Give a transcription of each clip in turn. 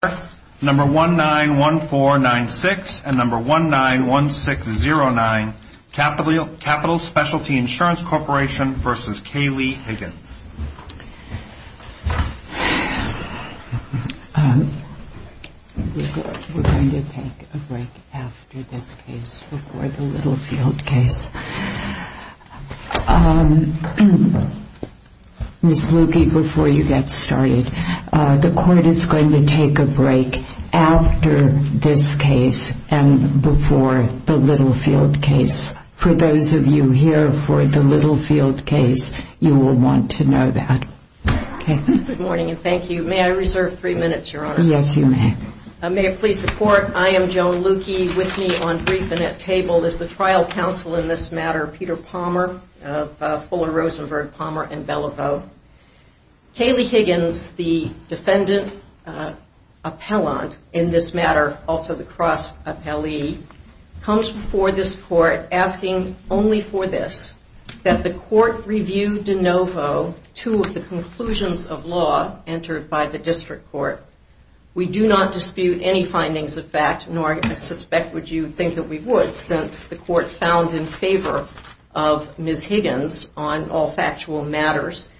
We're going to take a break after this case, before the Littlefield case. For those of you here for the Littlefield case, you will want to know that. Good morning and thank you. May I reserve three minutes, Your Honor? Yes, you may. May it please the Court, I am Joan Lukey. With me on brief and at table is the trial counsel in this matter, Peter Palmer of Fuller Rosenberg Palmer & Bellevaux. Kayleigh Higgins, the defendant appellant in this matter, also the cross appellee, comes before this Court asking only for this. That the Court review de novo two of the conclusions of law entered by the District Court. We do not dispute any findings of fact, nor I suspect would you think that we would, since the Court found in favor of Ms. Higgins on all factual matters.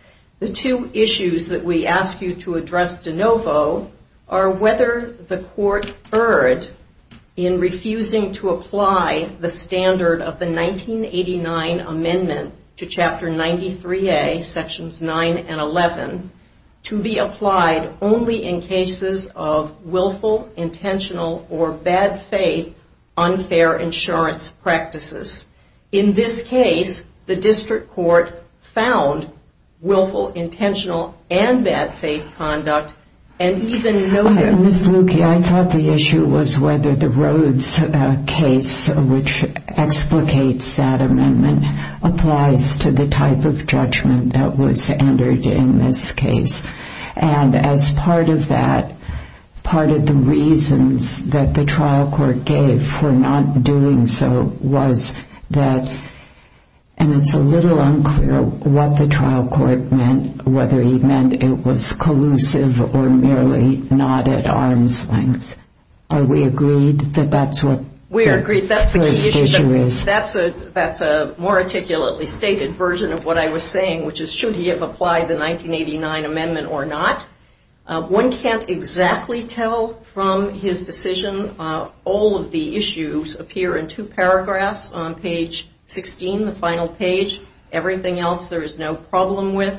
The two issues that we ask you to address de novo are whether the Court erred in refusing to apply the standard of the 1989 amendment to Chapter 93A, Sections 9 and 11, to be applied only in cases of willful, intentional, or bad faith unfair insurance practices. In this case, the District Court found willful, intentional, and bad faith conduct, and even noted... And as part of that, part of the reasons that the trial court gave for not doing so was that... And it's a little unclear what the trial court meant, whether he meant it was collusive or merely not at arm's length. Are we agreed that that's what the first issue is? That's a more articulately stated version of what I was saying, which is should he have applied the 1989 amendment or not? One can't exactly tell from his decision. All of the issues appear in two paragraphs on page 16, the final page. Everything else there is no problem with.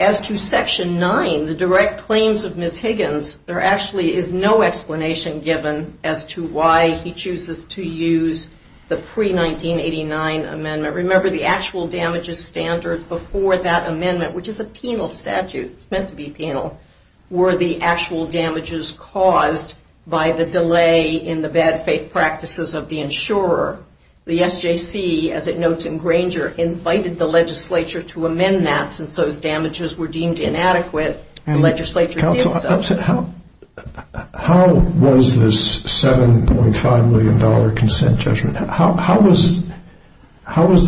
As to Section 9, the direct claims of Ms. Higgins, there actually is no explanation given as to why he chooses to use the pre-1989 amendment. Remember, the actual damages standard before that amendment, which is a penal statute, it's meant to be penal, were the actual damages caused by the delay in the bad faith practices of the insurer. The SJC, as it notes in Granger, invited the legislature to amend that since those damages were deemed inadequate. The legislature did so. Counsel, how was this $7.5 million consent judgment, how was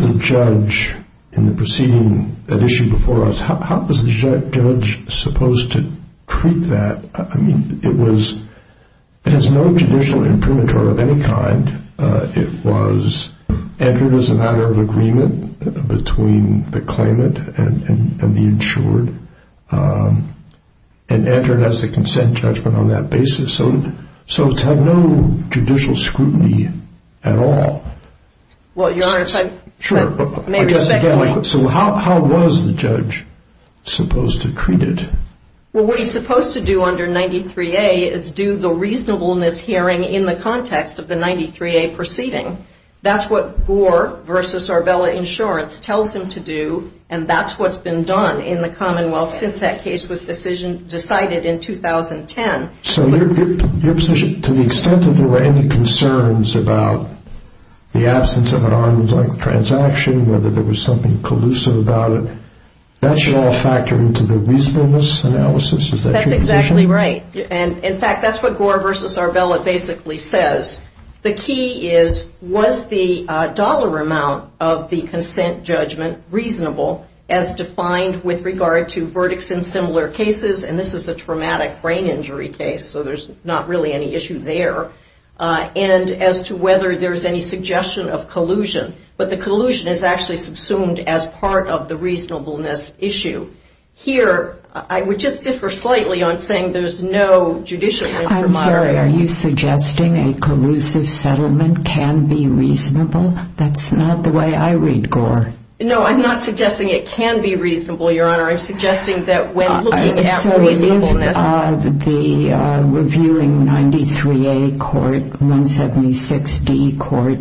the judge in the proceeding that issued before us, how was the judge supposed to treat that? Well, I mean, it has no judicial imprimatur of any kind. It was entered as a matter of agreement between the claimant and the insured and entered as a consent judgment on that basis. So it's had no judicial scrutiny at all. Well, Your Honor, if I may re-second that. So how was the judge supposed to treat it? Well, what he's supposed to do under 93A is do the reasonableness hearing in the context of the 93A proceeding. That's what Gore v. Arbella Insurance tells him to do, and that's what's been done in the Commonwealth since that case was decided in 2010. So to the extent that there were any concerns about the absence of an arm's-length transaction, whether there was something collusive about it, that should all factor into the reasonableness analysis. Is that your position? That's exactly right. And, in fact, that's what Gore v. Arbella basically says. The key is, was the dollar amount of the consent judgment reasonable as defined with regard to verdicts in similar cases, and this is a traumatic brain injury case, so there's not really any issue there, and as to whether there's any suggestion of collusion. But the collusion is actually subsumed as part of the reasonableness issue. Here, I would just differ slightly on saying there's no judicial reprimand. I'm sorry. Are you suggesting a collusive settlement can be reasonable? That's not the way I read Gore. No, I'm not suggesting it can be reasonable, Your Honor. I'm suggesting that when looking at reasonableness. So if the reviewing 93A court, 176D court,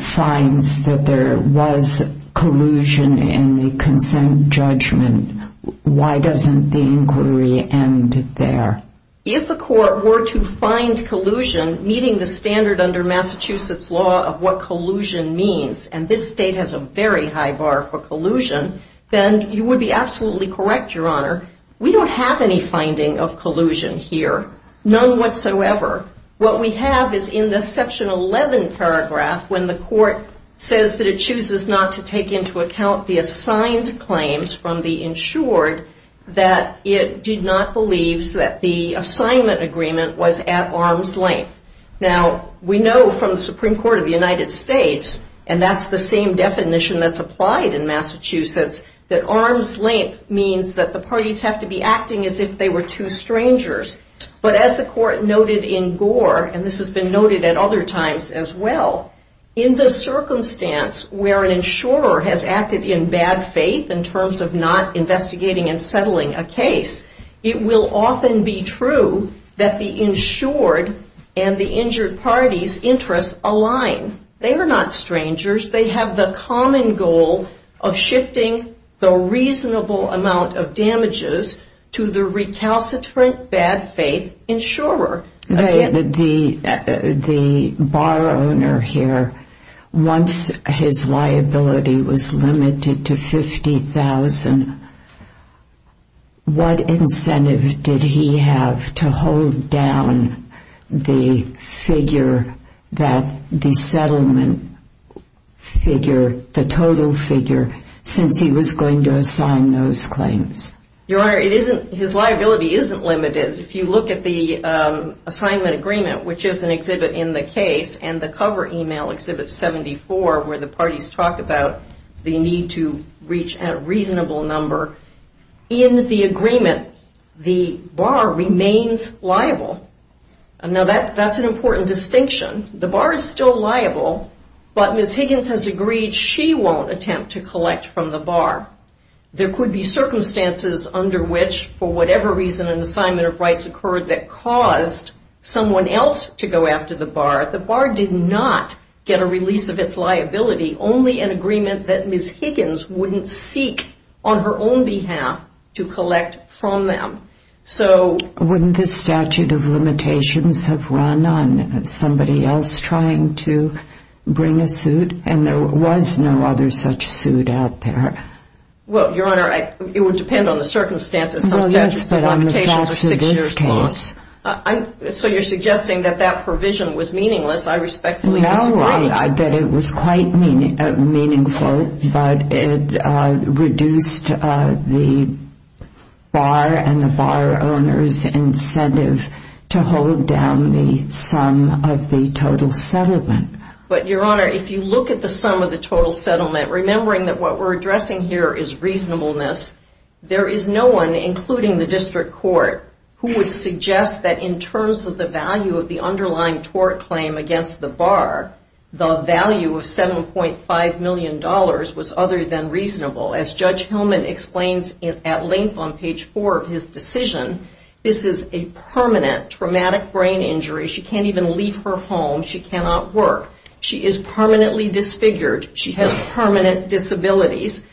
finds that there was collusion in the consent judgment, why doesn't the inquiry end there? If a court were to find collusion meeting the standard under Massachusetts law of what collusion means, and this state has a very high bar for collusion, then you would be absolutely correct, Your Honor, we don't have any finding of collusion here, none whatsoever. What we have is in the section 11 paragraph when the court says that it chooses not to take into account the assigned claims from the insured that it did not believe that the assignment agreement was at arm's length. Now, we know from the Supreme Court of the United States, and that's the same definition that's applied in Massachusetts, that arm's length means that the parties have to be acting as if they were two strangers. But as the court noted in Gore, and this has been noted at other times as well, in the circumstance where an insurer has acted in bad faith in terms of not investigating and settling a case, it will often be true that the insured and the injured party's interests align. They are not strangers. They have the common goal of shifting the reasonable amount of damages to the recalcitrant bad faith insurer. The bar owner here, once his liability was limited to $50,000, what incentive did he have to hold down the figure that the settlement figure, the total figure, since he was going to assign those claims? Your Honor, his liability isn't limited. If you look at the assignment agreement, which is an exhibit in the case, and the cover email, Exhibit 74, where the parties talk about the need to reach a reasonable number, in the agreement, the bar remains liable. Now, that's an important distinction. The bar is still liable, but Ms. Higgins has agreed she won't attempt to collect from the bar. There could be circumstances under which, for whatever reason, an assignment of rights occurred that caused someone else to go after the bar. The bar did not get a release of its liability, only an agreement that Ms. Higgins wouldn't seek on her own behalf to collect from them. So wouldn't the statute of limitations have run on somebody else trying to bring a suit, and there was no other such suit out there? Well, Your Honor, it would depend on the circumstances. Well, yes, but on the facts of this case. So you're suggesting that that provision was meaningless. I respectfully disagree. No, that it was quite meaningful, but it reduced the bar and the bar owner's incentive to hold down the sum of the total settlement. But, Your Honor, if you look at the sum of the total settlement, remembering that what we're addressing here is reasonableness, there is no one, including the district court, who would suggest that in terms of the value of the underlying tort claim against the bar, the value of $7.5 million was other than reasonable. As Judge Hillman explains at length on page 4 of his decision, this is a permanent traumatic brain injury. She can't even leave her home. She cannot work. She is permanently disfigured. She has permanent disabilities.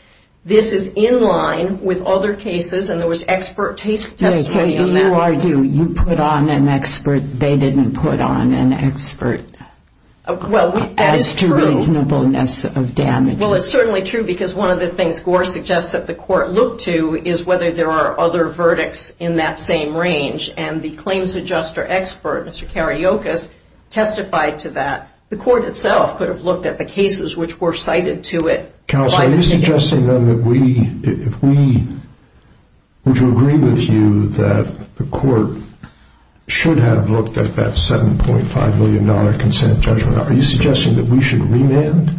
This is in line with other cases, and there was expert testimony on that. So you put on an expert. They didn't put on an expert. Well, that is true. As to reasonableness of damage. Well, it's certainly true because one of the things Gore suggests that the court look to is whether there are other verdicts in that same range, and the claims adjuster expert, Mr. Kariokas, testified to that. The court itself could have looked at the cases which were cited to it by Ms. Higgins. Counsel, are you suggesting then that we, if we, would you agree with you that the court should have looked at that $7.5 million consent judgment? Are you suggesting that we should remand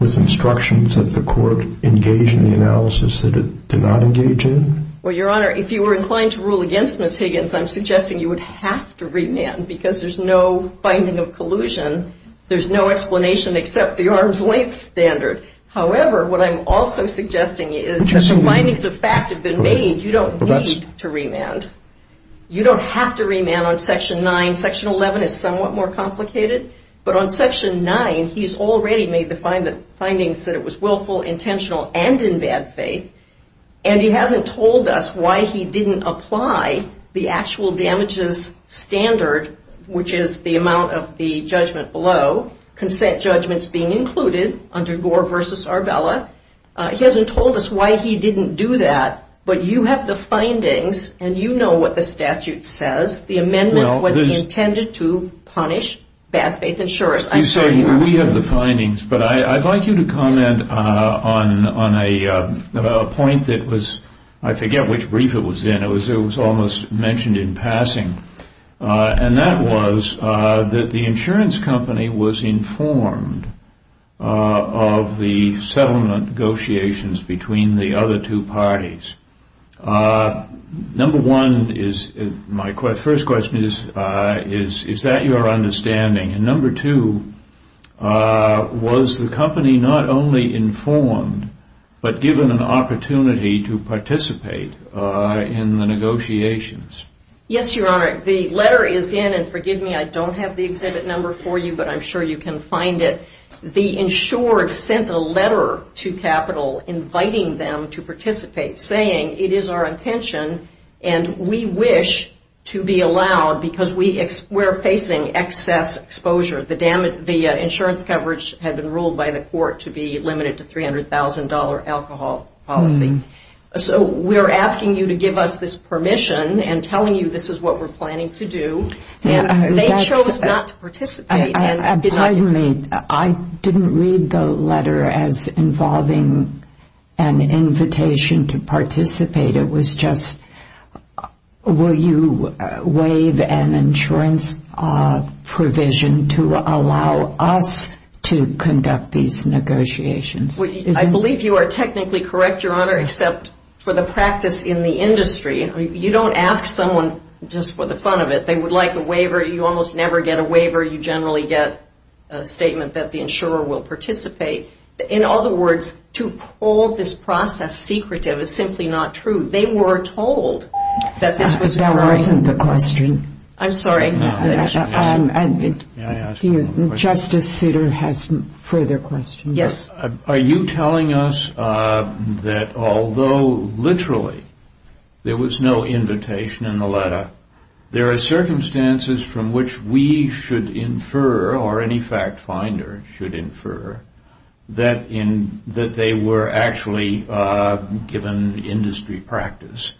with instructions that the court engage in the analysis that it did not engage in? Well, Your Honor, if you were inclined to rule against Ms. Higgins, I'm suggesting you would have to remand because there's no finding of collusion. There's no explanation except the arm's length standard. However, what I'm also suggesting is that the findings of fact have been made. You don't need to remand. You don't have to remand on Section 9. Section 11 is somewhat more complicated, but on Section 9, he's already made the findings that it was willful, intentional, and in bad faith, and he hasn't told us why he didn't apply the actual damages standard, which is the amount of the judgment below, consent judgments being included under Gore v. Arbella. He hasn't told us why he didn't do that, but you have the findings, and you know what the statute says. The amendment was intended to punish bad faith insurers. We have the findings, but I'd like you to comment on a point that was, I forget which brief it was in. It was almost mentioned in passing, and that was that the insurance company was informed of the settlement negotiations between the other two parties. Number one, my first question is, is that your understanding? And number two, was the company not only informed, but given an opportunity to participate in the negotiations? Yes, Your Honor. The letter is in, and forgive me, I don't have the exhibit number for you, but I'm sure you can find it. The insured sent a letter to capital inviting them to participate, saying it is our intention and we wish to be allowed because we're facing excess exposure. The insurance coverage had been ruled by the court to be limited to $300,000 alcohol policy. So we're asking you to give us this permission and telling you this is what we're planning to do, and they chose not to participate. Pardon me. I didn't read the letter as involving an invitation to participate. It was just, will you waive an insurance provision to allow us to conduct these negotiations? I believe you are technically correct, Your Honor, except for the practice in the industry. You don't ask someone just for the fun of it. They would like a waiver. You almost never get a waiver. You generally get a statement that the insurer will participate. In other words, to pull this process secretive is simply not true. They were told that this was going to be a waiver. That wasn't the question. I'm sorry. Justice Souter has further questions. Are you telling us that although literally there was no invitation in the letter, there are circumstances from which we should infer or any fact finder should infer that they were actually, given industry practice,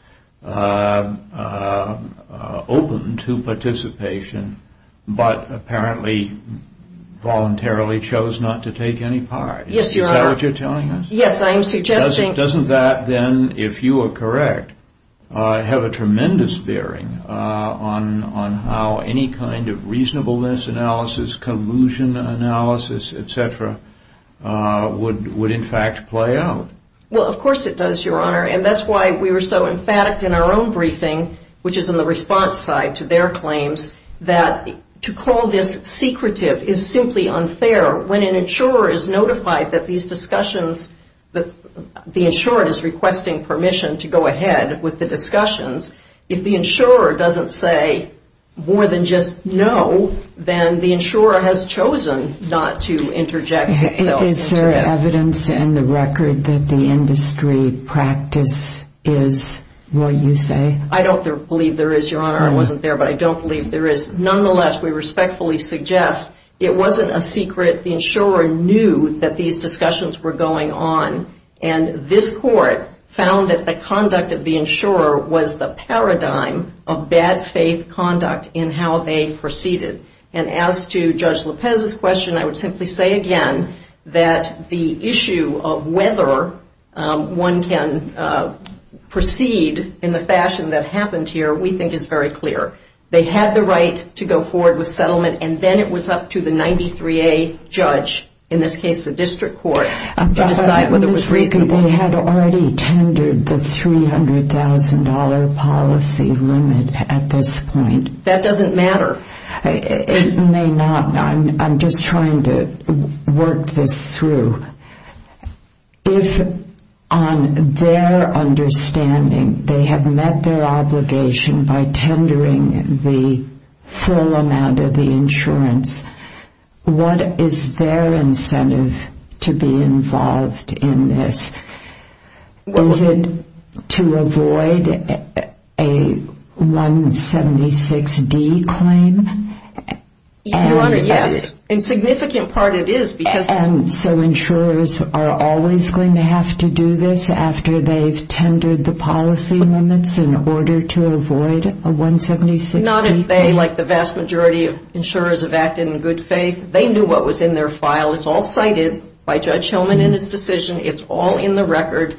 open to participation but apparently voluntarily chose not to take any part? Yes, Your Honor. Is that what you're telling us? Yes, I am suggesting. Doesn't that then, if you are correct, have a tremendous bearing on how any kind of reasonableness analysis, collusion analysis, et cetera, would in fact play out? Well, of course it does, Your Honor, and that's why we were so emphatic in our own briefing, which is on the response side to their claims, that to call this secretive is simply unfair. When an insurer is notified that these discussions, the insurer is requesting permission to go ahead with the discussions, if the insurer doesn't say more than just no, then the insurer has chosen not to interject. Is there evidence in the record that the industry practice is what you say? I don't believe there is, Your Honor. I wasn't there, but I don't believe there is. Nonetheless, we respectfully suggest it wasn't a secret. The insurer knew that these discussions were going on, and this court found that the conduct of the insurer was the paradigm of bad faith conduct in how they proceeded. And as to Judge Lopez's question, I would simply say again that the issue of whether one can proceed in the fashion that happened here, we think is very clear. They had the right to go forward with settlement, and then it was up to the 93A judge, in this case the district court, to decide whether it was reasonable. But they had already tendered the $300,000 policy limit at this point. That doesn't matter. It may not. I'm just trying to work this through. If on their understanding they have met their obligation by tendering the full amount of the insurance, what is their incentive to be involved in this? Is it to avoid a 176D claim? Your Honor, yes. A significant part it is because So insurers are always going to have to do this after they've tendered the policy limits in order to avoid a 176D claim? Not if they, like the vast majority of insurers, have acted in good faith. They knew what was in their file. It's all cited by Judge Hillman in his decision. It's all in the record.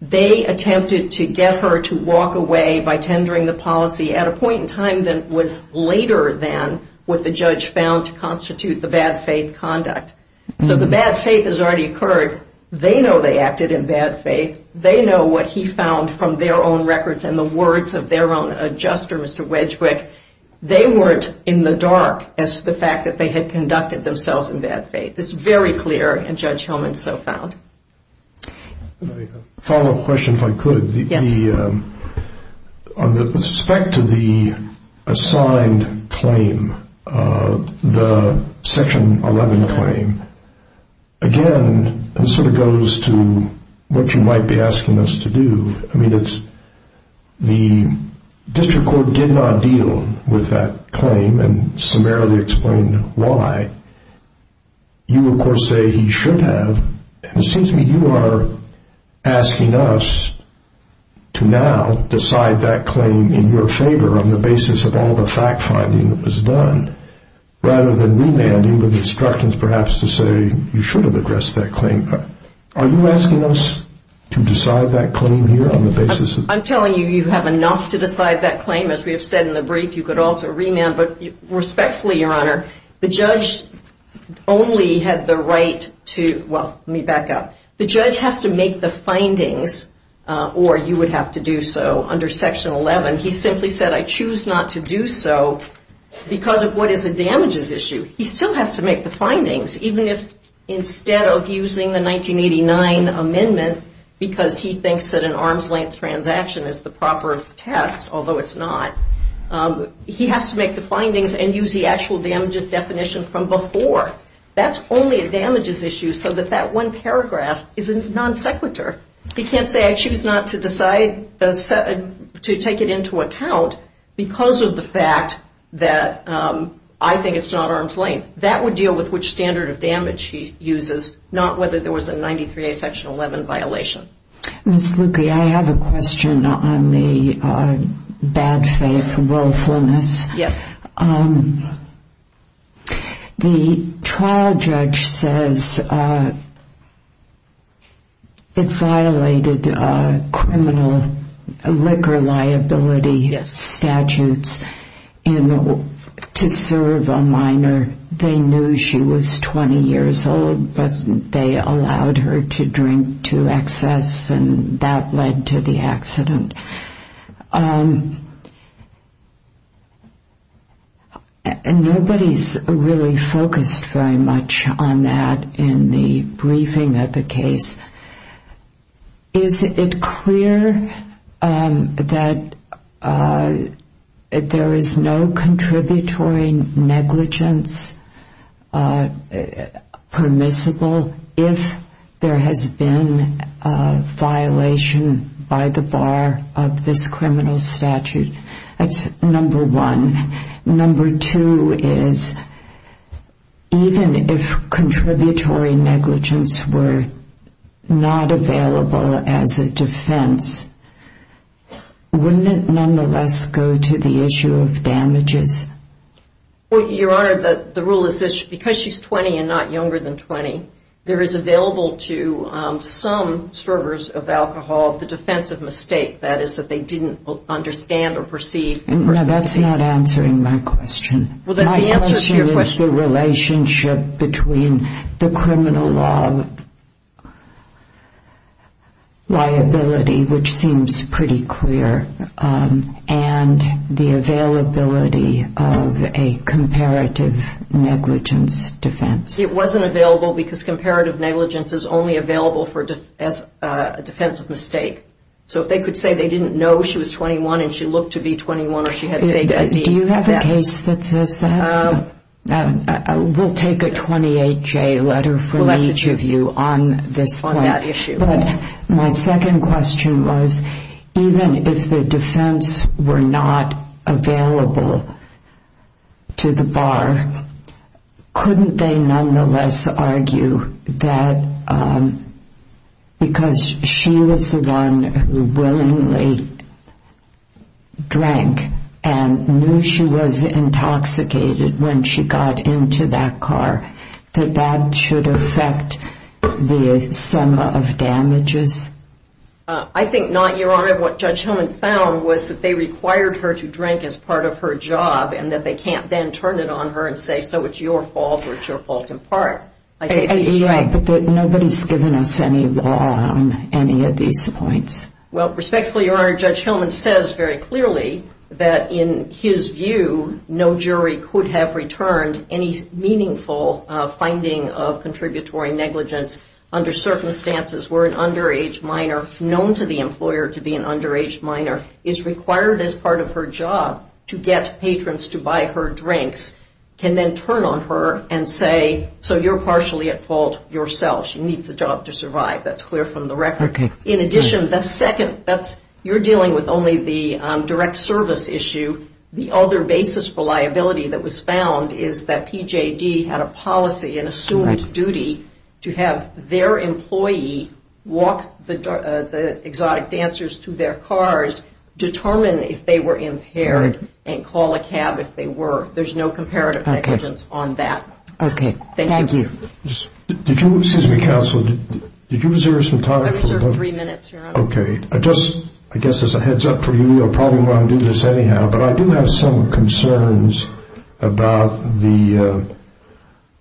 They attempted to get her to walk away by tendering the policy at a point in time that was later than what the judge found to constitute the bad faith conduct. So the bad faith has already occurred. They know they acted in bad faith. They know what he found from their own records and the words of their own adjuster, Mr. Wedgwick, they weren't in the dark as to the fact that they had conducted themselves in bad faith. It's very clear, and Judge Hillman so found. A follow-up question, if I could. Yes. On the respect to the assigned claim, the Section 11 claim, again, it sort of goes to what you might be asking us to do. I mean, it's the district court did not deal with that claim and summarily explained why. You, of course, say he should have. It seems to me you are asking us to now decide that claim in your favor on the basis of all the fact-finding that was done rather than remanding with instructions perhaps to say you should have addressed that claim. Are you asking us to decide that claim here on the basis of that? I'm telling you, you have enough to decide that claim. As we have said in the brief, you could also remand. But respectfully, Your Honor, the judge only had the right to, well, let me back up. The judge has to make the findings or you would have to do so under Section 11. He simply said I choose not to do so because of what is a damages issue. He still has to make the findings even if instead of using the 1989 amendment because he thinks that an arms-length transaction is the proper test, although it's not, he has to make the findings and use the actual damages definition from before. That's only a damages issue so that that one paragraph is a non sequitur. He can't say I choose not to take it into account because of the fact that I think it's not arms-length. That would deal with which standard of damage he uses, not whether there was a 93A Section 11 violation. Ms. Luque, I have a question on the bad faith willfulness. Yes. The trial judge says it violated criminal liquor liability statutes to serve a minor. They knew she was 20 years old, but they allowed her to drink to excess and that led to the accident. Nobody's really focused very much on that in the briefing of the case. Is it clear that there is no contributory negligence permissible if there has been a violation by the bar of this criminal statute? That's number one. Number two is even if contributory negligence were not available as a defense, wouldn't it nonetheless go to the issue of damages? Your Honor, the rule is because she's 20 and not younger than 20, there is available to some servers of alcohol the defense of mistake, that is that they didn't understand or perceive. No, that's not answering my question. My question is the relationship between the criminal law liability, which seems pretty clear, and the availability of a comparative negligence defense. It wasn't available because comparative negligence is only available as a defense of mistake. So if they could say they didn't know she was 21 and she looked to be 21 or she had faith in me. Do you have a case that says that? We'll take a 28-J letter from each of you on this point. On that issue. My second question was even if the defense were not available to the bar, couldn't they nonetheless argue that because she was the one who willingly drank and knew she was intoxicated when she got into that car, that that should affect the sum of damages? I think not, Your Honor. What Judge Hillman found was that they required her to drink as part of her job and that they can't then turn it on her and say so it's your fault or it's your fault in part. Yeah, but nobody's given us any law on any of these points. Well, respectfully, Your Honor, Judge Hillman says very clearly that in his view, no jury could have returned any meaningful finding of contributory negligence under circumstances where an underage minor known to the employer to be an underage minor is required as part of her job to get patrons to buy her drinks, can then turn on her and say so you're partially at fault yourself. She needs a job to survive. That's clear from the record. In addition, the second, you're dealing with only the direct service issue. The other basis for liability that was found is that PJD had a policy and assumed duty to have their employee walk the exotic dancers to their cars, determine if they were impaired, and call a cab if they were. There's no comparative negligence on that. Okay, thank you. Excuse me, counsel, did you reserve some time? I reserved three minutes, Your Honor. Okay, I just, I guess as a heads up for you, you'll probably want to do this anyhow, but I do have some concerns about the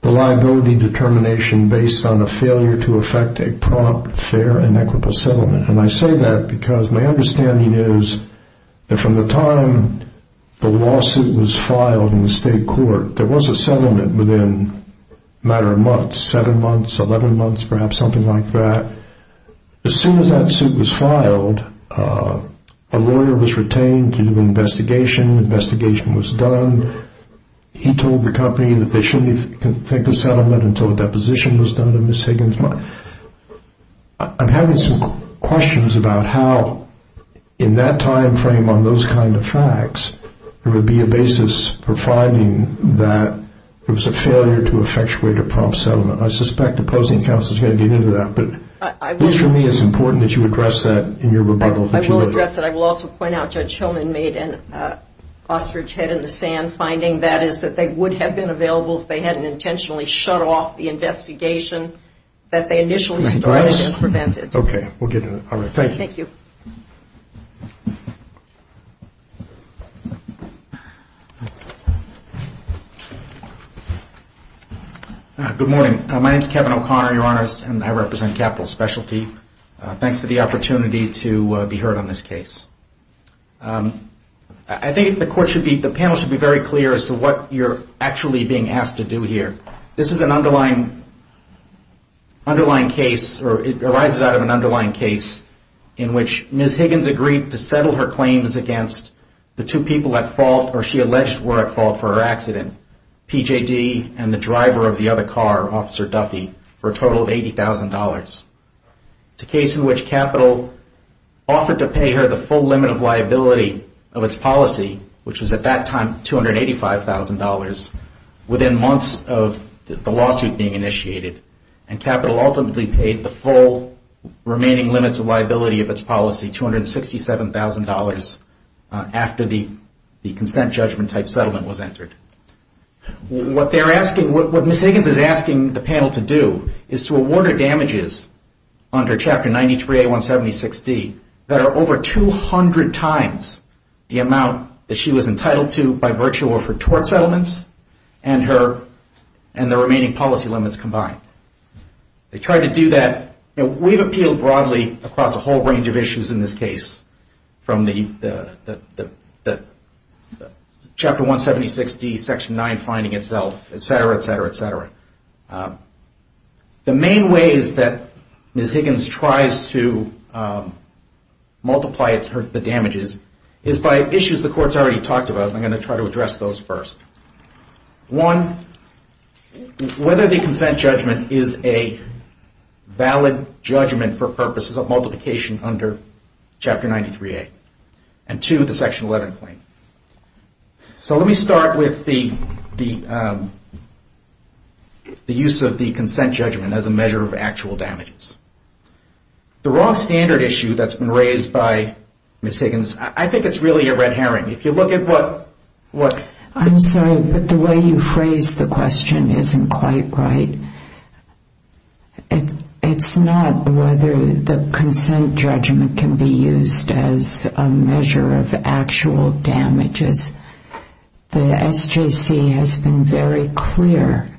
liability determination based on a failure to effect a prompt, fair, and equitable settlement. And I say that because my understanding is that from the time the lawsuit was filed in the state court, there was a settlement within a matter of months, seven months, 11 months, perhaps something like that. As soon as that suit was filed, a lawyer was retained to do an investigation. Investigation was done. He told the company that they shouldn't think of settlement until a deposition was done to Ms. Higgins. I'm having some questions about how in that time frame on those kind of facts, there would be a basis for finding that there was a failure to effectuate a prompt settlement. I suspect opposing counsel is going to get into that, but at least for me it's important that you address that in your rebuttal. I will address that. I will also point out Judge Hillman made an ostrich head in the sand finding, that is that they would have been available if they hadn't intentionally shut off the investigation that they initially started and prevented. Okay, we'll get to that. All right, thank you. Thank you. Good morning. My name is Kevin O'Connor, Your Honors, and I represent Capital Specialty. Thanks for the opportunity to be heard on this case. I think the panel should be very clear as to what you're actually being asked to do here. This is an underlying case, or it arises out of an underlying case, in which Ms. Higgins agreed to settle her claims against the two people at fault or she alleged were at fault for her accident, PJD and the driver of the other car, Officer Duffy, for a total of $80,000. It's a case in which Capital offered to pay her the full limit of liability of its policy, which was at that time $285,000, within months of the lawsuit being initiated, and Capital ultimately paid the full remaining limits of liability of its policy, $267,000, after the consent judgment-type settlement was entered. What Ms. Higgins is asking the panel to do is to award her damages under Chapter 93A-176D that are over 200 times the amount that she was entitled to by virtue of her tort settlements and the remaining policy limits combined. They tried to do that. We've appealed broadly across a whole range of issues in this case, from the Chapter 176D, Section 9 finding itself, et cetera, et cetera, et cetera. The main ways that Ms. Higgins tries to multiply the damages is by issues the Court's already talked about, and I'm going to try to address those first. One, whether the consent judgment is a valid judgment for purposes of multiplication under Chapter 93A, and two, the Section 11 claim. Let me start with the use of the consent judgment as a measure of actual damages. The raw standard issue that's been raised by Ms. Higgins, I think it's really a red herring. If you look at what... I'm sorry, but the way you phrased the question isn't quite right. It's not whether the consent judgment can be used as a measure of actual damages. The SJC has been very clear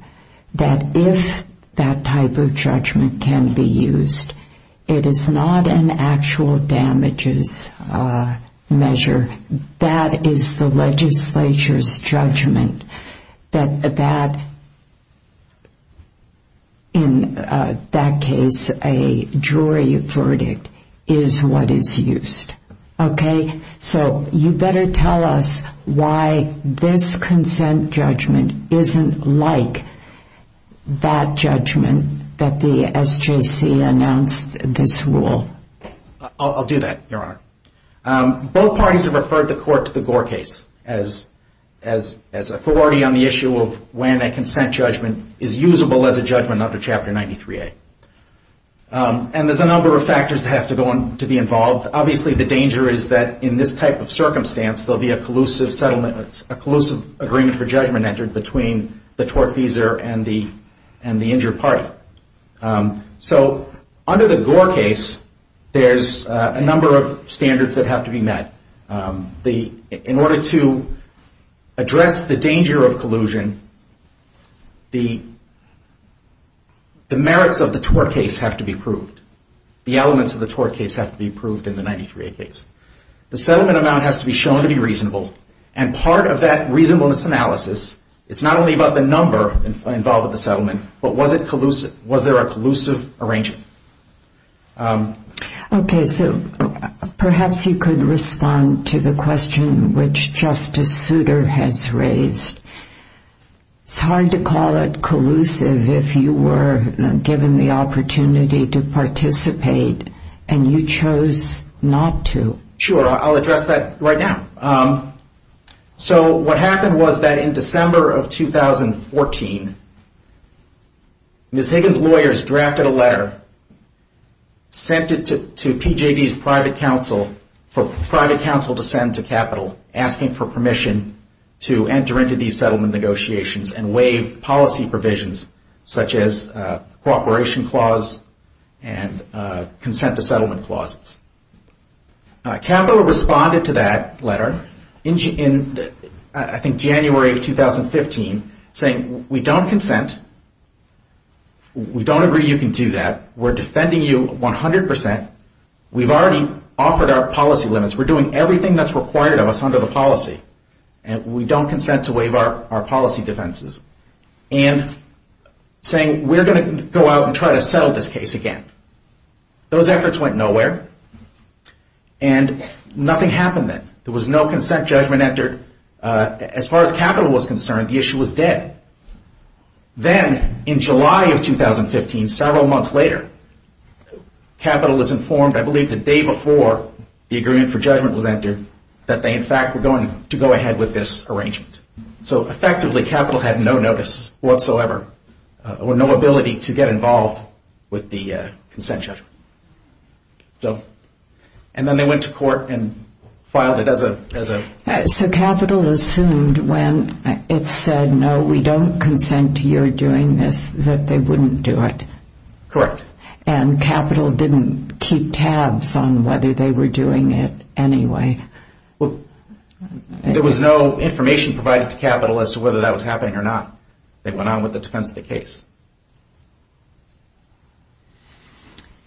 that if that type of judgment can be used, it is not an actual damages measure. That is the legislature's judgment that that... In that case, a jury verdict is what is used. So you better tell us why this consent judgment isn't like that judgment that the SJC announced this rule. I'll do that, Your Honor. Both parties have referred the Court to the Gore case as authority on the issue of when a consent judgment is usable as a judgment under Chapter 93A. And there's a number of factors that have to be involved. Obviously, the danger is that in this type of circumstance, there'll be a collusive settlement, a collusive agreement for judgment entered between the tortfeasor and the injured party. So under the Gore case, there's a number of standards that have to be met. In order to address the danger of collusion, the merits of the tort case have to be proved. The elements of the tort case have to be proved in the 93A case. The settlement amount has to be shown to be reasonable. And part of that reasonableness analysis, it's not only about the number involved in the settlement, but was there a collusive arrangement? Okay, so perhaps you could respond to the question which Justice Souter has raised. It's hard to call it collusive if you were given the opportunity to participate and you chose not to. Sure, I'll address that right now. So what happened was that in December of 2014, Ms. Higgins' lawyers drafted a letter, sent it to PJB's private counsel for private counsel to send to Capital, asking for permission to enter into these settlement negotiations and waive policy provisions such as cooperation clause and consent to settlement clauses. Capital responded to that letter in, I think, January of 2015, saying, we don't consent. We don't agree you can do that. We're defending you 100%. We've already offered our policy limits. We're doing everything that's required of us under the policy. And we don't consent to waive our policy defenses. And saying, we're going to go out and try to settle this case again. Those efforts went nowhere. And nothing happened then. There was no consent judgment entered. As far as Capital was concerned, the issue was dead. Then, in July of 2015, several months later, Capital was informed, I believe the day before the agreement for judgment was entered, that they, in fact, were going to go ahead with this arrangement. So, effectively, Capital had no notice whatsoever or no ability to get involved with the consent judgment. And then they went to court and filed it as a... So, Capital assumed when it said, no, we don't consent to your doing this, that they wouldn't do it. Correct. And Capital didn't keep tabs on whether they were doing it anyway. Well, there was no information provided to Capital as to whether that was happening or not. They went on with the defense of the case.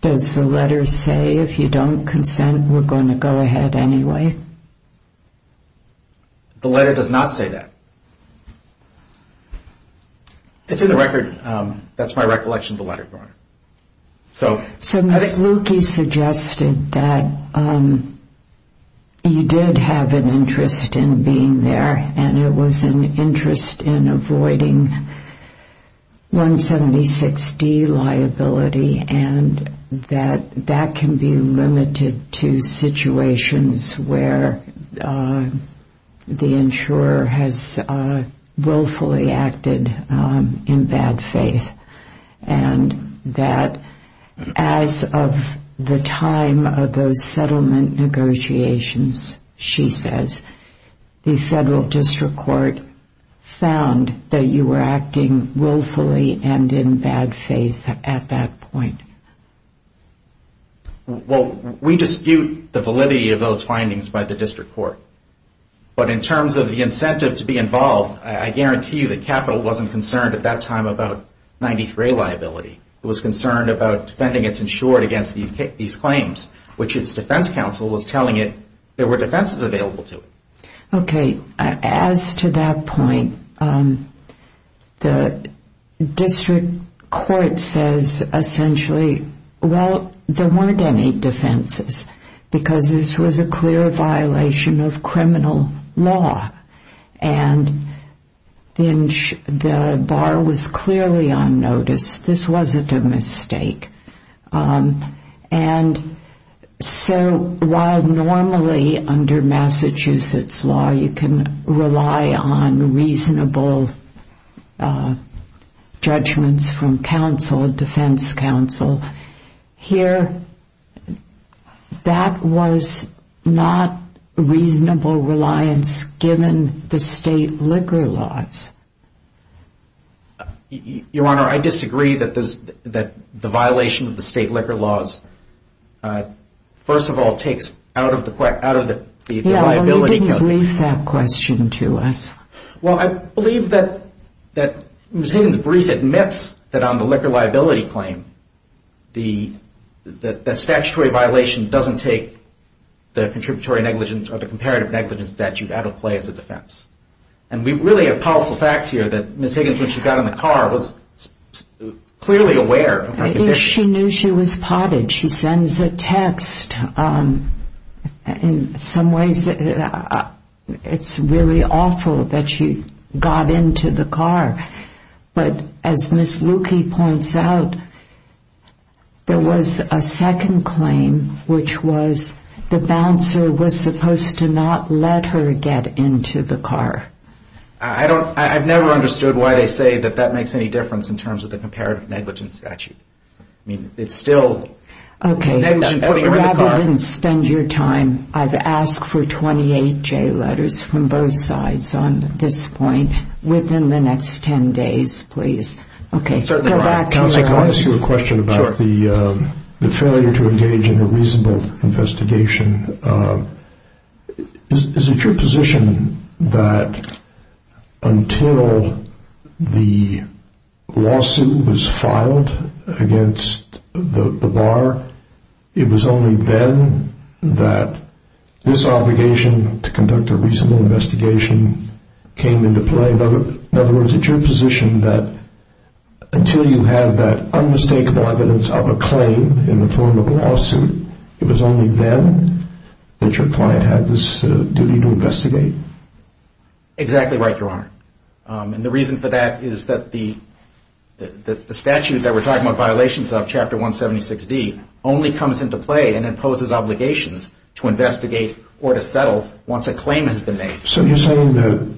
Does the letter say, if you don't consent, we're going to go ahead anyway? The letter does not say that. It's in the record. That's my recollection of the letter, Your Honor. So, Ms. Lukey suggested that you did have an interest in being there and it was an interest in avoiding 176D liability and that that can be limited to situations where the insurer has willfully acted in bad faith and that as of the time of those settlement negotiations, she says, the Federal District Court found that you were acting willfully and in bad faith at that point. Well, we dispute the validity of those findings by the District Court. But in terms of the incentive to be involved, I guarantee you that Capital wasn't concerned at that time about 93A liability. It was concerned about defending its insured against these claims, which its defense counsel was telling it there were defenses available to it. Okay. As to that point, the District Court says essentially, well, there weren't any defenses because this was a clear violation of criminal law and the bar was clearly on notice. This wasn't a mistake. And so while normally under Massachusetts law, you can rely on reasonable judgments from counsel, defense counsel, here that was not reasonable reliance given the state liquor laws. Your Honor, I disagree that the violation of the state liquor laws, first of all, takes out of the liability. Yeah, but you didn't brief that question to us. Well, I believe that Ms. Hayden's brief admits that on the liquor liability claim, the statutory violation doesn't take the contributory negligence or the comparative negligence statute out of play as a defense. And we really have powerful facts here that Ms. Hayden, when she got in the car, was clearly aware of her condition. She knew she was potted. She sends a text. In some ways, it's really awful that she got into the car. But as Ms. Lukey points out, there was a second claim, which was the bouncer was supposed to not let her get into the car. I've never understood why they say that that makes any difference in terms of the comparative negligence statute. I mean, it's still negligent putting her in the car. Okay, rather than spend your time, I've asked for 28 J letters from both sides on this point within the next 10 days, please. Okay, go back to my question. I want to ask you a question about the failure to engage in a reasonable investigation. Is it your position that until the lawsuit was filed against the bar, it was only then that this obligation to conduct a reasonable investigation came into play? In other words, it's your position that until you have that unmistakable evidence of a claim in the form of a lawsuit, it was only then that your client had this duty to investigate? Exactly right, Your Honor. And the reason for that is that the statute that we're talking about, Violations of Chapter 176D, only comes into play and imposes obligations to investigate or to settle once a claim has been made. So you're saying that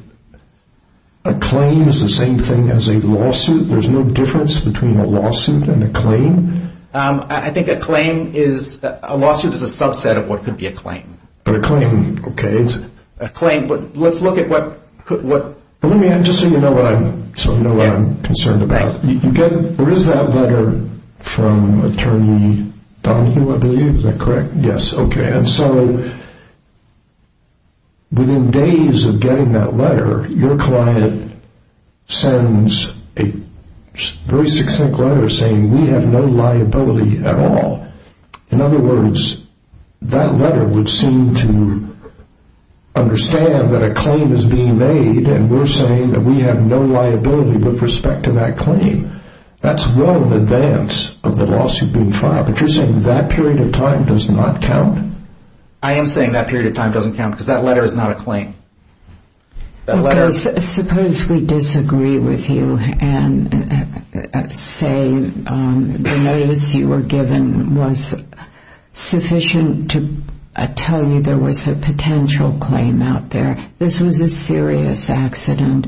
a claim is the same thing as a lawsuit? There's no difference between a lawsuit and a claim? I think a lawsuit is a subset of what could be a claim. But a claim, okay. A claim, but let's look at what... Let me just so you know what I'm concerned about. There is that letter from Attorney Donahue, I believe. Is that correct? Yes. Okay, and so within days of getting that letter, your client sends a very succinct letter saying, We have no liability at all. In other words, that letter would seem to understand that a claim is being made and we're saying that we have no liability with respect to that claim. That's well in advance of the lawsuit being filed. But you're saying that period of time does not count? I am saying that period of time doesn't count because that letter is not a claim. Because suppose we disagree with you and say the notice you were given was sufficient to tell you there was a potential claim out there. This was a serious accident.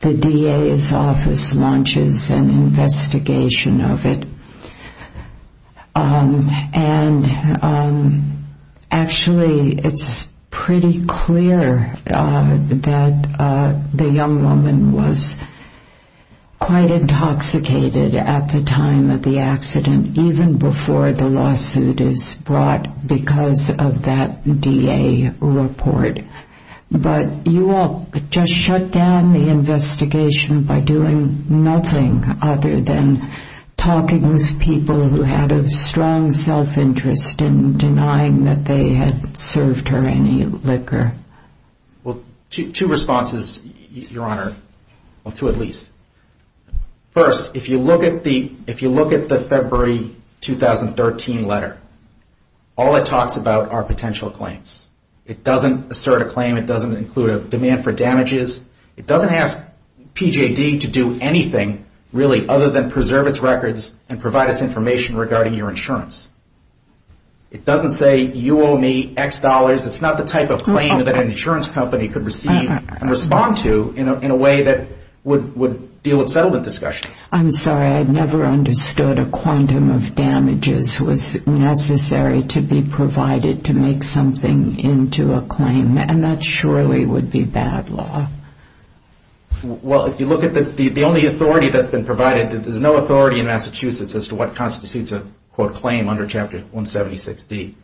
The DA's office launches an investigation of it. Actually, it's pretty clear that the young woman was quite intoxicated at the time of the accident, even before the lawsuit is brought because of that DA report. But you all just shut down the investigation by doing nothing other than talking with people who had a strong self-interest in denying that they had served her any liquor. Well, two responses, Your Honor. Well, two at least. First, if you look at the February 2013 letter, all it talks about are potential claims. It doesn't assert a claim. It doesn't include a demand for damages. It doesn't ask PJD to do anything really other than preserve its records and provide us information regarding your insurance. It doesn't say you owe me X dollars. It's not the type of claim that an insurance company could receive and respond to in a way that would deal with settlement discussions. I'm sorry. I never understood a quantum of damages was necessary to be provided to make something into a claim, and that surely would be bad law. Well, if you look at the only authority that's been provided, there's no authority in Massachusetts as to what constitutes a, quote, claim under Chapter 176D.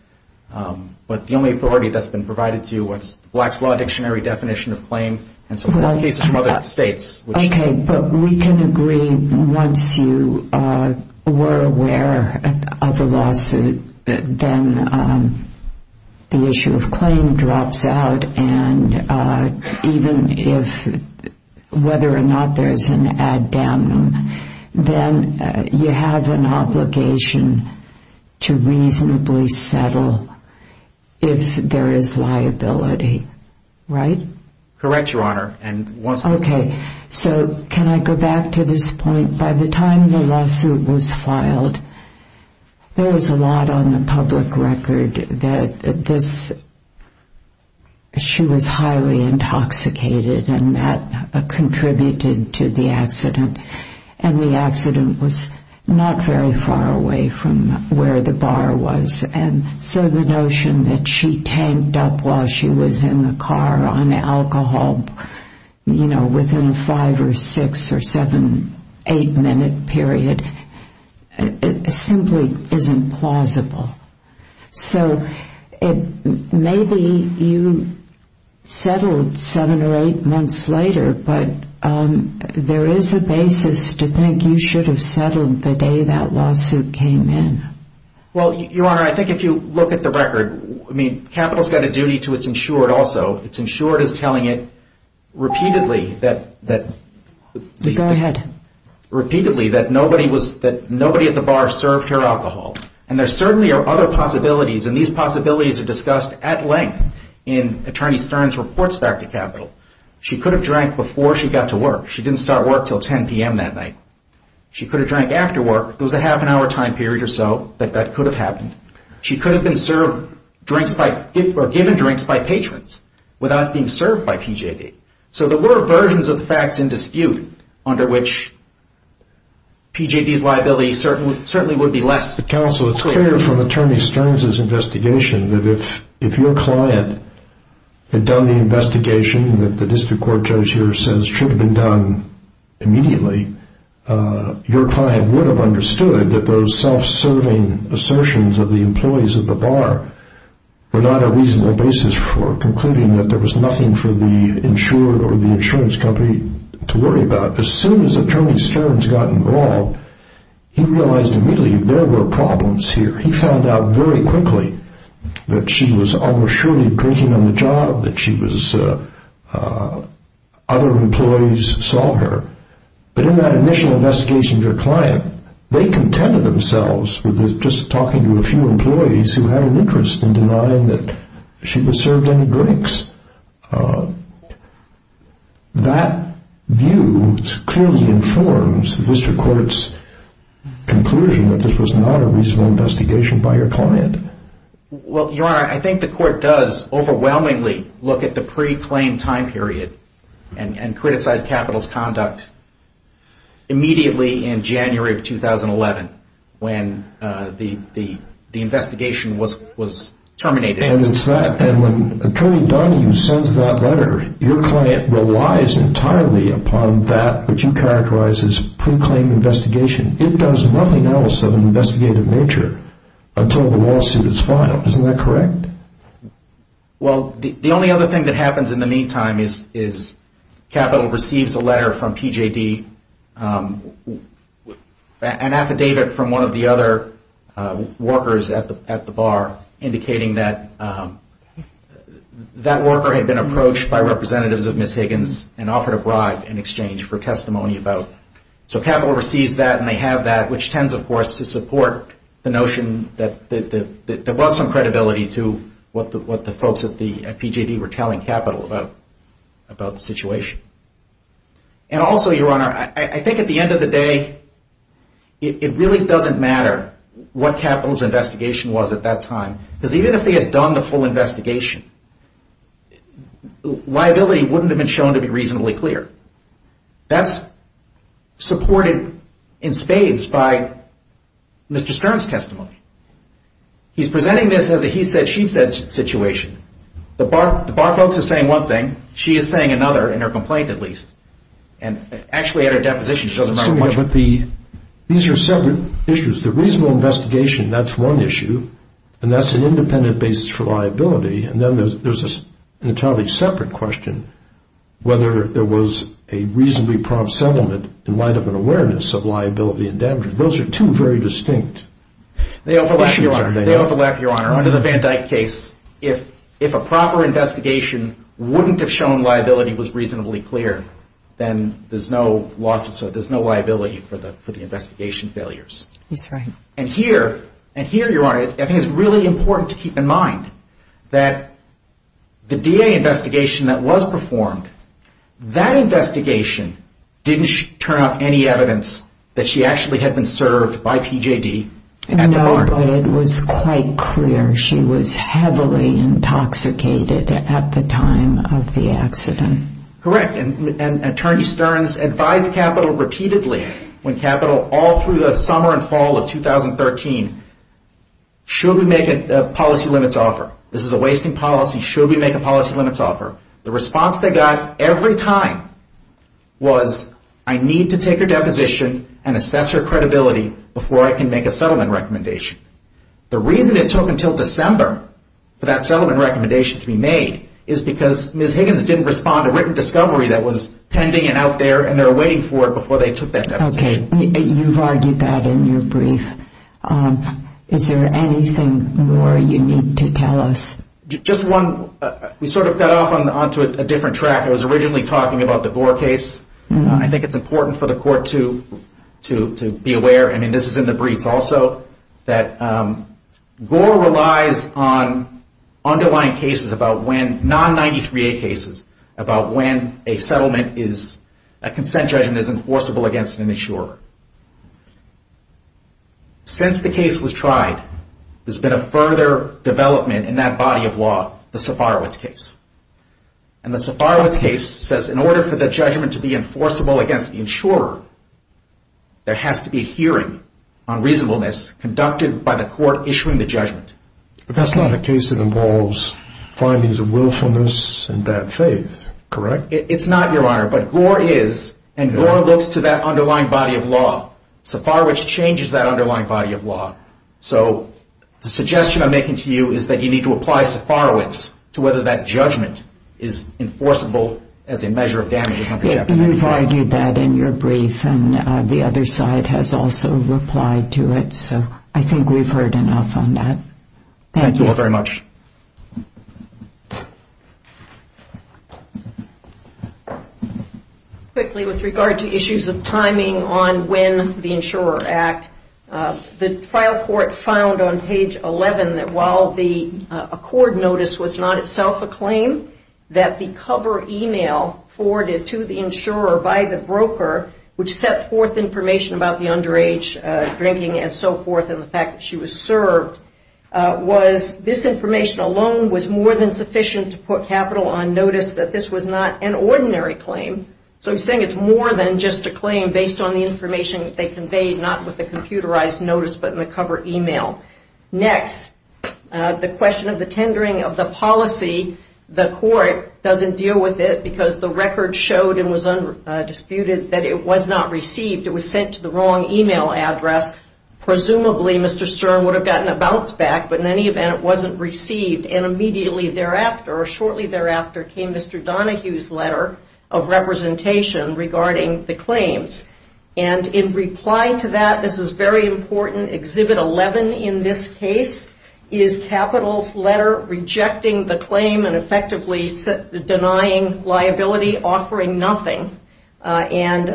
But the only authority that's been provided to you was the Black's Law Dictionary definition of claim and some other cases from other states. Okay, but we can agree once you were aware of the lawsuit that then the issue of claim drops out, and even if whether or not there's an addendum, then you have an obligation to reasonably settle if there is liability, right? Correct, Your Honor. Okay, so can I go back to this point? By the time the lawsuit was filed, there was a lot on the public record that she was highly intoxicated, and that contributed to the accident. And the accident was not very far away from where the bar was, and so the notion that she tanked up while she was in the car on alcohol, you know, within a five or six or seven, eight-minute period, simply isn't plausible. So maybe you settled seven or eight months later, but there is a basis to think you should have settled the day that lawsuit came in. Well, Your Honor, I think if you look at the record, I mean, capital's got a duty to its insured also. It's insured as telling it repeatedly that nobody at the bar served her alcohol. And there certainly are other possibilities, and these possibilities are discussed at length in Attorney Stern's reports back to capital. She could have drank before she got to work. She didn't start work until 10 p.m. that night. She could have drank after work. There was a half-an-hour time period or so that that could have happened. She could have been served drinks or given drinks by patrons without being served by PJD. So there were versions of the facts in dispute under which PJD's liability certainly would be less. Counsel, it's clear from Attorney Stern's investigation that if your client had done the investigation that the district court judge here says should have been done immediately, your client would have understood that those self-serving assertions of the employees at the bar were not a reasonable basis for concluding that there was nothing for the insured or the insurance company to worry about. As soon as Attorney Stern's got involved, he realized immediately there were problems here. He found out very quickly that she was almost surely drinking on the job, that other employees saw her. But in that initial investigation of your client, they contended themselves with just talking to a few employees who had an interest in denying that she was served any drinks. That view clearly informs the district court's conclusion that this was not a reasonable investigation by your client. Well, Your Honor, I think the court does overwhelmingly look at the pre-claim time period and criticize capital's conduct immediately in January of 2011 when the investigation was terminated. And it's that. And when Attorney Donohue sends that letter, your client relies entirely upon that which you characterize as pre-claim investigation. It does nothing else of an investigative nature until the lawsuit is filed. Isn't that correct? Well, the only other thing that happens in the meantime is Capital receives a letter from PJD, an affidavit from one of the other workers at the bar, indicating that that worker had been approached by representatives of Ms. Higgins and offered a bribe in exchange for testimony about her. So Capital receives that and they have that, which tends, of course, to support the notion that there was some credibility to what the folks at PJD were telling Capital about the situation. And also, Your Honor, I think at the end of the day, it really doesn't matter what Capital's investigation was at that time because even if they had done the full investigation, liability wouldn't have been shown to be reasonably clear. That's supported in spades by Mr. Stern's testimony. He's presenting this as a he-said-she-said situation. The bar folks are saying one thing. She is saying another, in her complaint at least. And actually at her deposition, it doesn't matter much. But these are separate issues. The reasonable investigation, that's one issue, and that's an independent basis for liability. And then there's an entirely separate question, whether there was a reasonably prompt settlement and lined up an awareness of liability and damages. Those are two very distinct issues. They overlap, Your Honor. Under the Van Dyck case, if a proper investigation wouldn't have shown liability was reasonably clear, then there's no liability for the investigation failures. That's right. And here, Your Honor, I think it's really important to keep in mind that the DA investigation that was performed, that investigation didn't turn up any evidence that she actually had been served by PJD at the bar. No, but it was quite clear she was heavily intoxicated at the time of the accident. Correct. And Attorney Sterns advised Capitol repeatedly when Capitol, all through the summer and fall of 2013, should we make a policy limits offer? This is a wasting policy. Should we make a policy limits offer? The response they got every time was, I need to take her deposition and assess her credibility before I can make a settlement recommendation. The reason it took until December for that settlement recommendation to be made is because Ms. Higgins didn't respond to written discovery that was pending and out there and they were waiting for it before they took that deposition. Okay. You've argued that in your brief. Is there anything more you need to tell us? Just one. We sort of got off onto a different track. I was originally talking about the Gore case. I think it's important for the court to be aware. I mean, this is in the briefs also, that Gore relies on underlying cases about when, non-93A cases, about when a settlement is, a consent judgment is enforceable against an insurer. Since the case was tried, there's been a further development in that body of law, the Safarowicz case. And the Safarowicz case says in order for the judgment to be enforceable against the insurer, there has to be a hearing on reasonableness conducted by the court issuing the judgment. But that's not a case that involves findings of willfulness and bad faith, correct? It's not, Your Honor. But Gore is, and Gore looks to that underlying body of law. Safarowicz changes that underlying body of law. So the suggestion I'm making to you is that you need to apply Safarowicz to whether that judgment is enforceable as a measure of damages under Chapter 95. You've argued that in your brief, and the other side has also replied to it. So I think we've heard enough on that. Thank you. Thank you all very much. Quickly, with regard to issues of timing on when the insurer act, the trial court found on page 11 that while the accord notice was not itself a claim, that the cover email forwarded to the insurer by the broker, which set forth information about the underage drinking and so forth and the fact that she was served, was this information alone was more than sufficient to put capital on notice that this was not an ordinary claim. So I'm saying it's more than just a claim based on the information that they conveyed, not with a computerized notice, but in the cover email. Next, the question of the tendering of the policy, the court doesn't deal with it because the record showed and was undisputed that it was not received. It was sent to the wrong email address. Presumably, Mr. Stern would have gotten a bounce back, but in any event, it wasn't received. And immediately thereafter, or shortly thereafter, came Mr. Donohue's letter of representation regarding the claims. And in reply to that, this is very important, Exhibit 11 in this case is Capital's letter rejecting the claim and effectively denying liability, offering nothing. And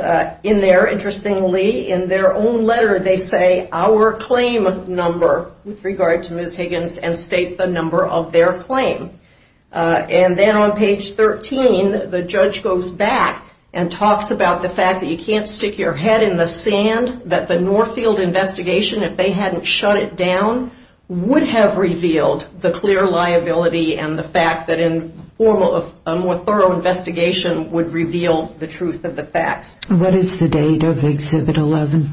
in there, interestingly, in their own letter, they say, our claim number, with regard to Ms. Higgins, and state the number of their claim. And then on page 13, the judge goes back and talks about the fact that you can't stick your head in the sand, that the Northfield investigation, if they hadn't shut it down, would have revealed the clear liability and the fact that a more thorough investigation would reveal the truth of the facts. What is the date of Exhibit 11?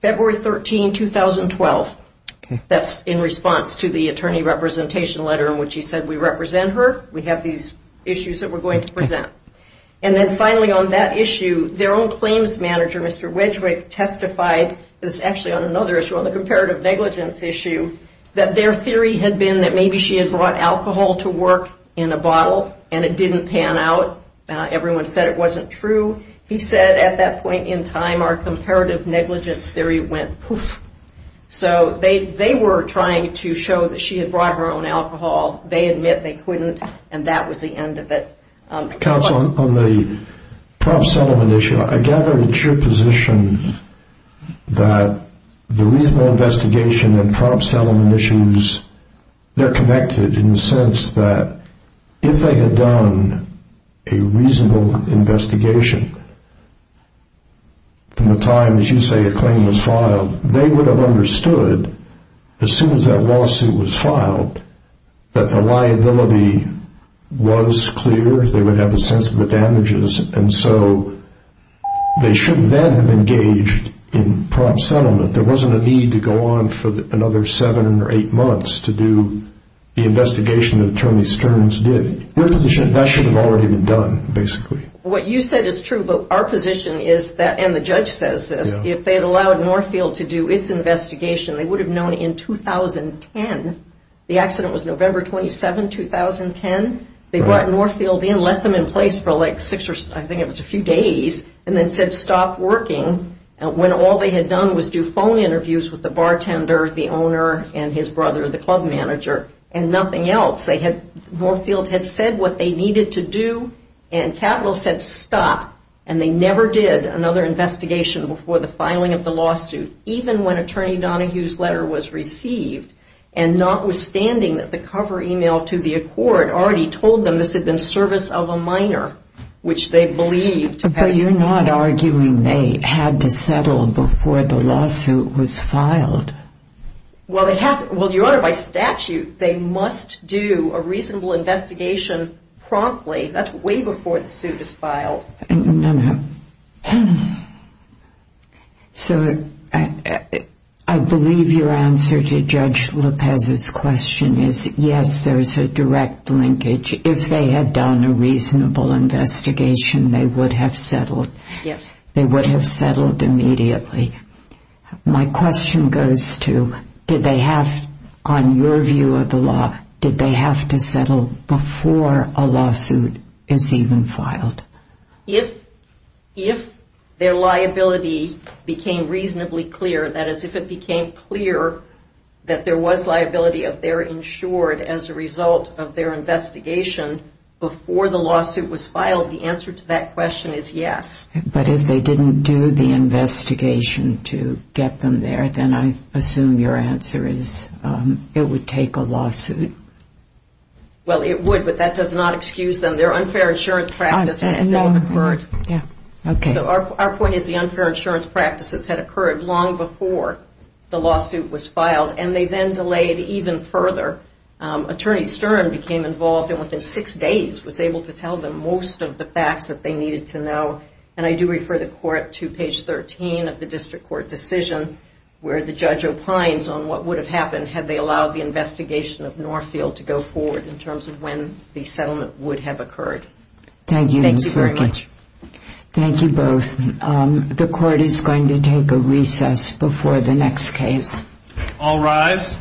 February 13, 2012. That's in response to the attorney representation letter in which he said, we represent her, we have these issues that we're going to present. And then finally on that issue, their own claims manager, Mr. Wedgwick, testified, this is actually on another issue, on the comparative negligence issue, that their theory had been that maybe she had brought alcohol to work in a bottle and it didn't pan out, everyone said it wasn't true. He said, at that point in time, our comparative negligence theory went poof. So they were trying to show that she had brought her own alcohol. They admit they couldn't, and that was the end of it. Counsel, on the prop settlement issue, I gather it's your position that the reasonable investigation and prop settlement issues, they're connected in the sense that if they had done a reasonable investigation from the time, as you say, a claim was filed, they would have understood, as soon as that lawsuit was filed, that the liability was clear, they would have a sense of the damages, and so they should then have engaged in prop settlement. There wasn't a need to go on for another seven or eight months to do the investigation that Attorney Stearns did. That should have already been done, basically. What you said is true, but our position is that, and the judge says this, if they had allowed Northfield to do its investigation, they would have known in 2010, the accident was November 27, 2010, they brought Northfield in, left them in place for like six or, I think it was a few days, and then said stop working, when all they had done was do phone interviews with the bartender, the owner, and his brother, the club manager, and nothing else. Northfield had said what they needed to do, and Capital said stop, and they never did another investigation before the filing of the lawsuit, even when Attorney Donohue's letter was received, and notwithstanding that the cover email to the court already told them this had been service of a minor, which they believed... But you're not arguing they had to settle before the lawsuit was filed. Well, Your Honor, by statute, they must do a reasonable investigation promptly, that's way before the suit is filed. No, no. So, I believe your answer to Judge Lopez's question is, yes, there's a direct linkage. If they had done a reasonable investigation, they would have settled. Yes. They would have settled immediately. My question goes to, did they have, on your view of the law, did they have to settle before a lawsuit is even filed? If their liability became reasonably clear, that is, if it became clear that there was liability of their insured as a result of their investigation before the lawsuit was filed, the answer to that question is yes. But if they didn't do the investigation to get them there, then I assume your answer is it would take a lawsuit. Well, it would, but that does not excuse them. Their unfair insurance practice would still have occurred. Yeah, okay. So, our point is the unfair insurance practices had occurred long before the lawsuit was filed, and they then delayed even further. Attorney Stern became involved and within six days was able to tell them most of the facts that they needed to know. And I do refer the Court to page 13 of the District Court decision where the judge opines on what would have happened had they allowed the investigation of Northfield to go forward in terms of when the settlement would have occurred. Thank you, Ms. Berkey. Thank you very much. Thank you both. The Court is going to take a recess before the next case. All rise.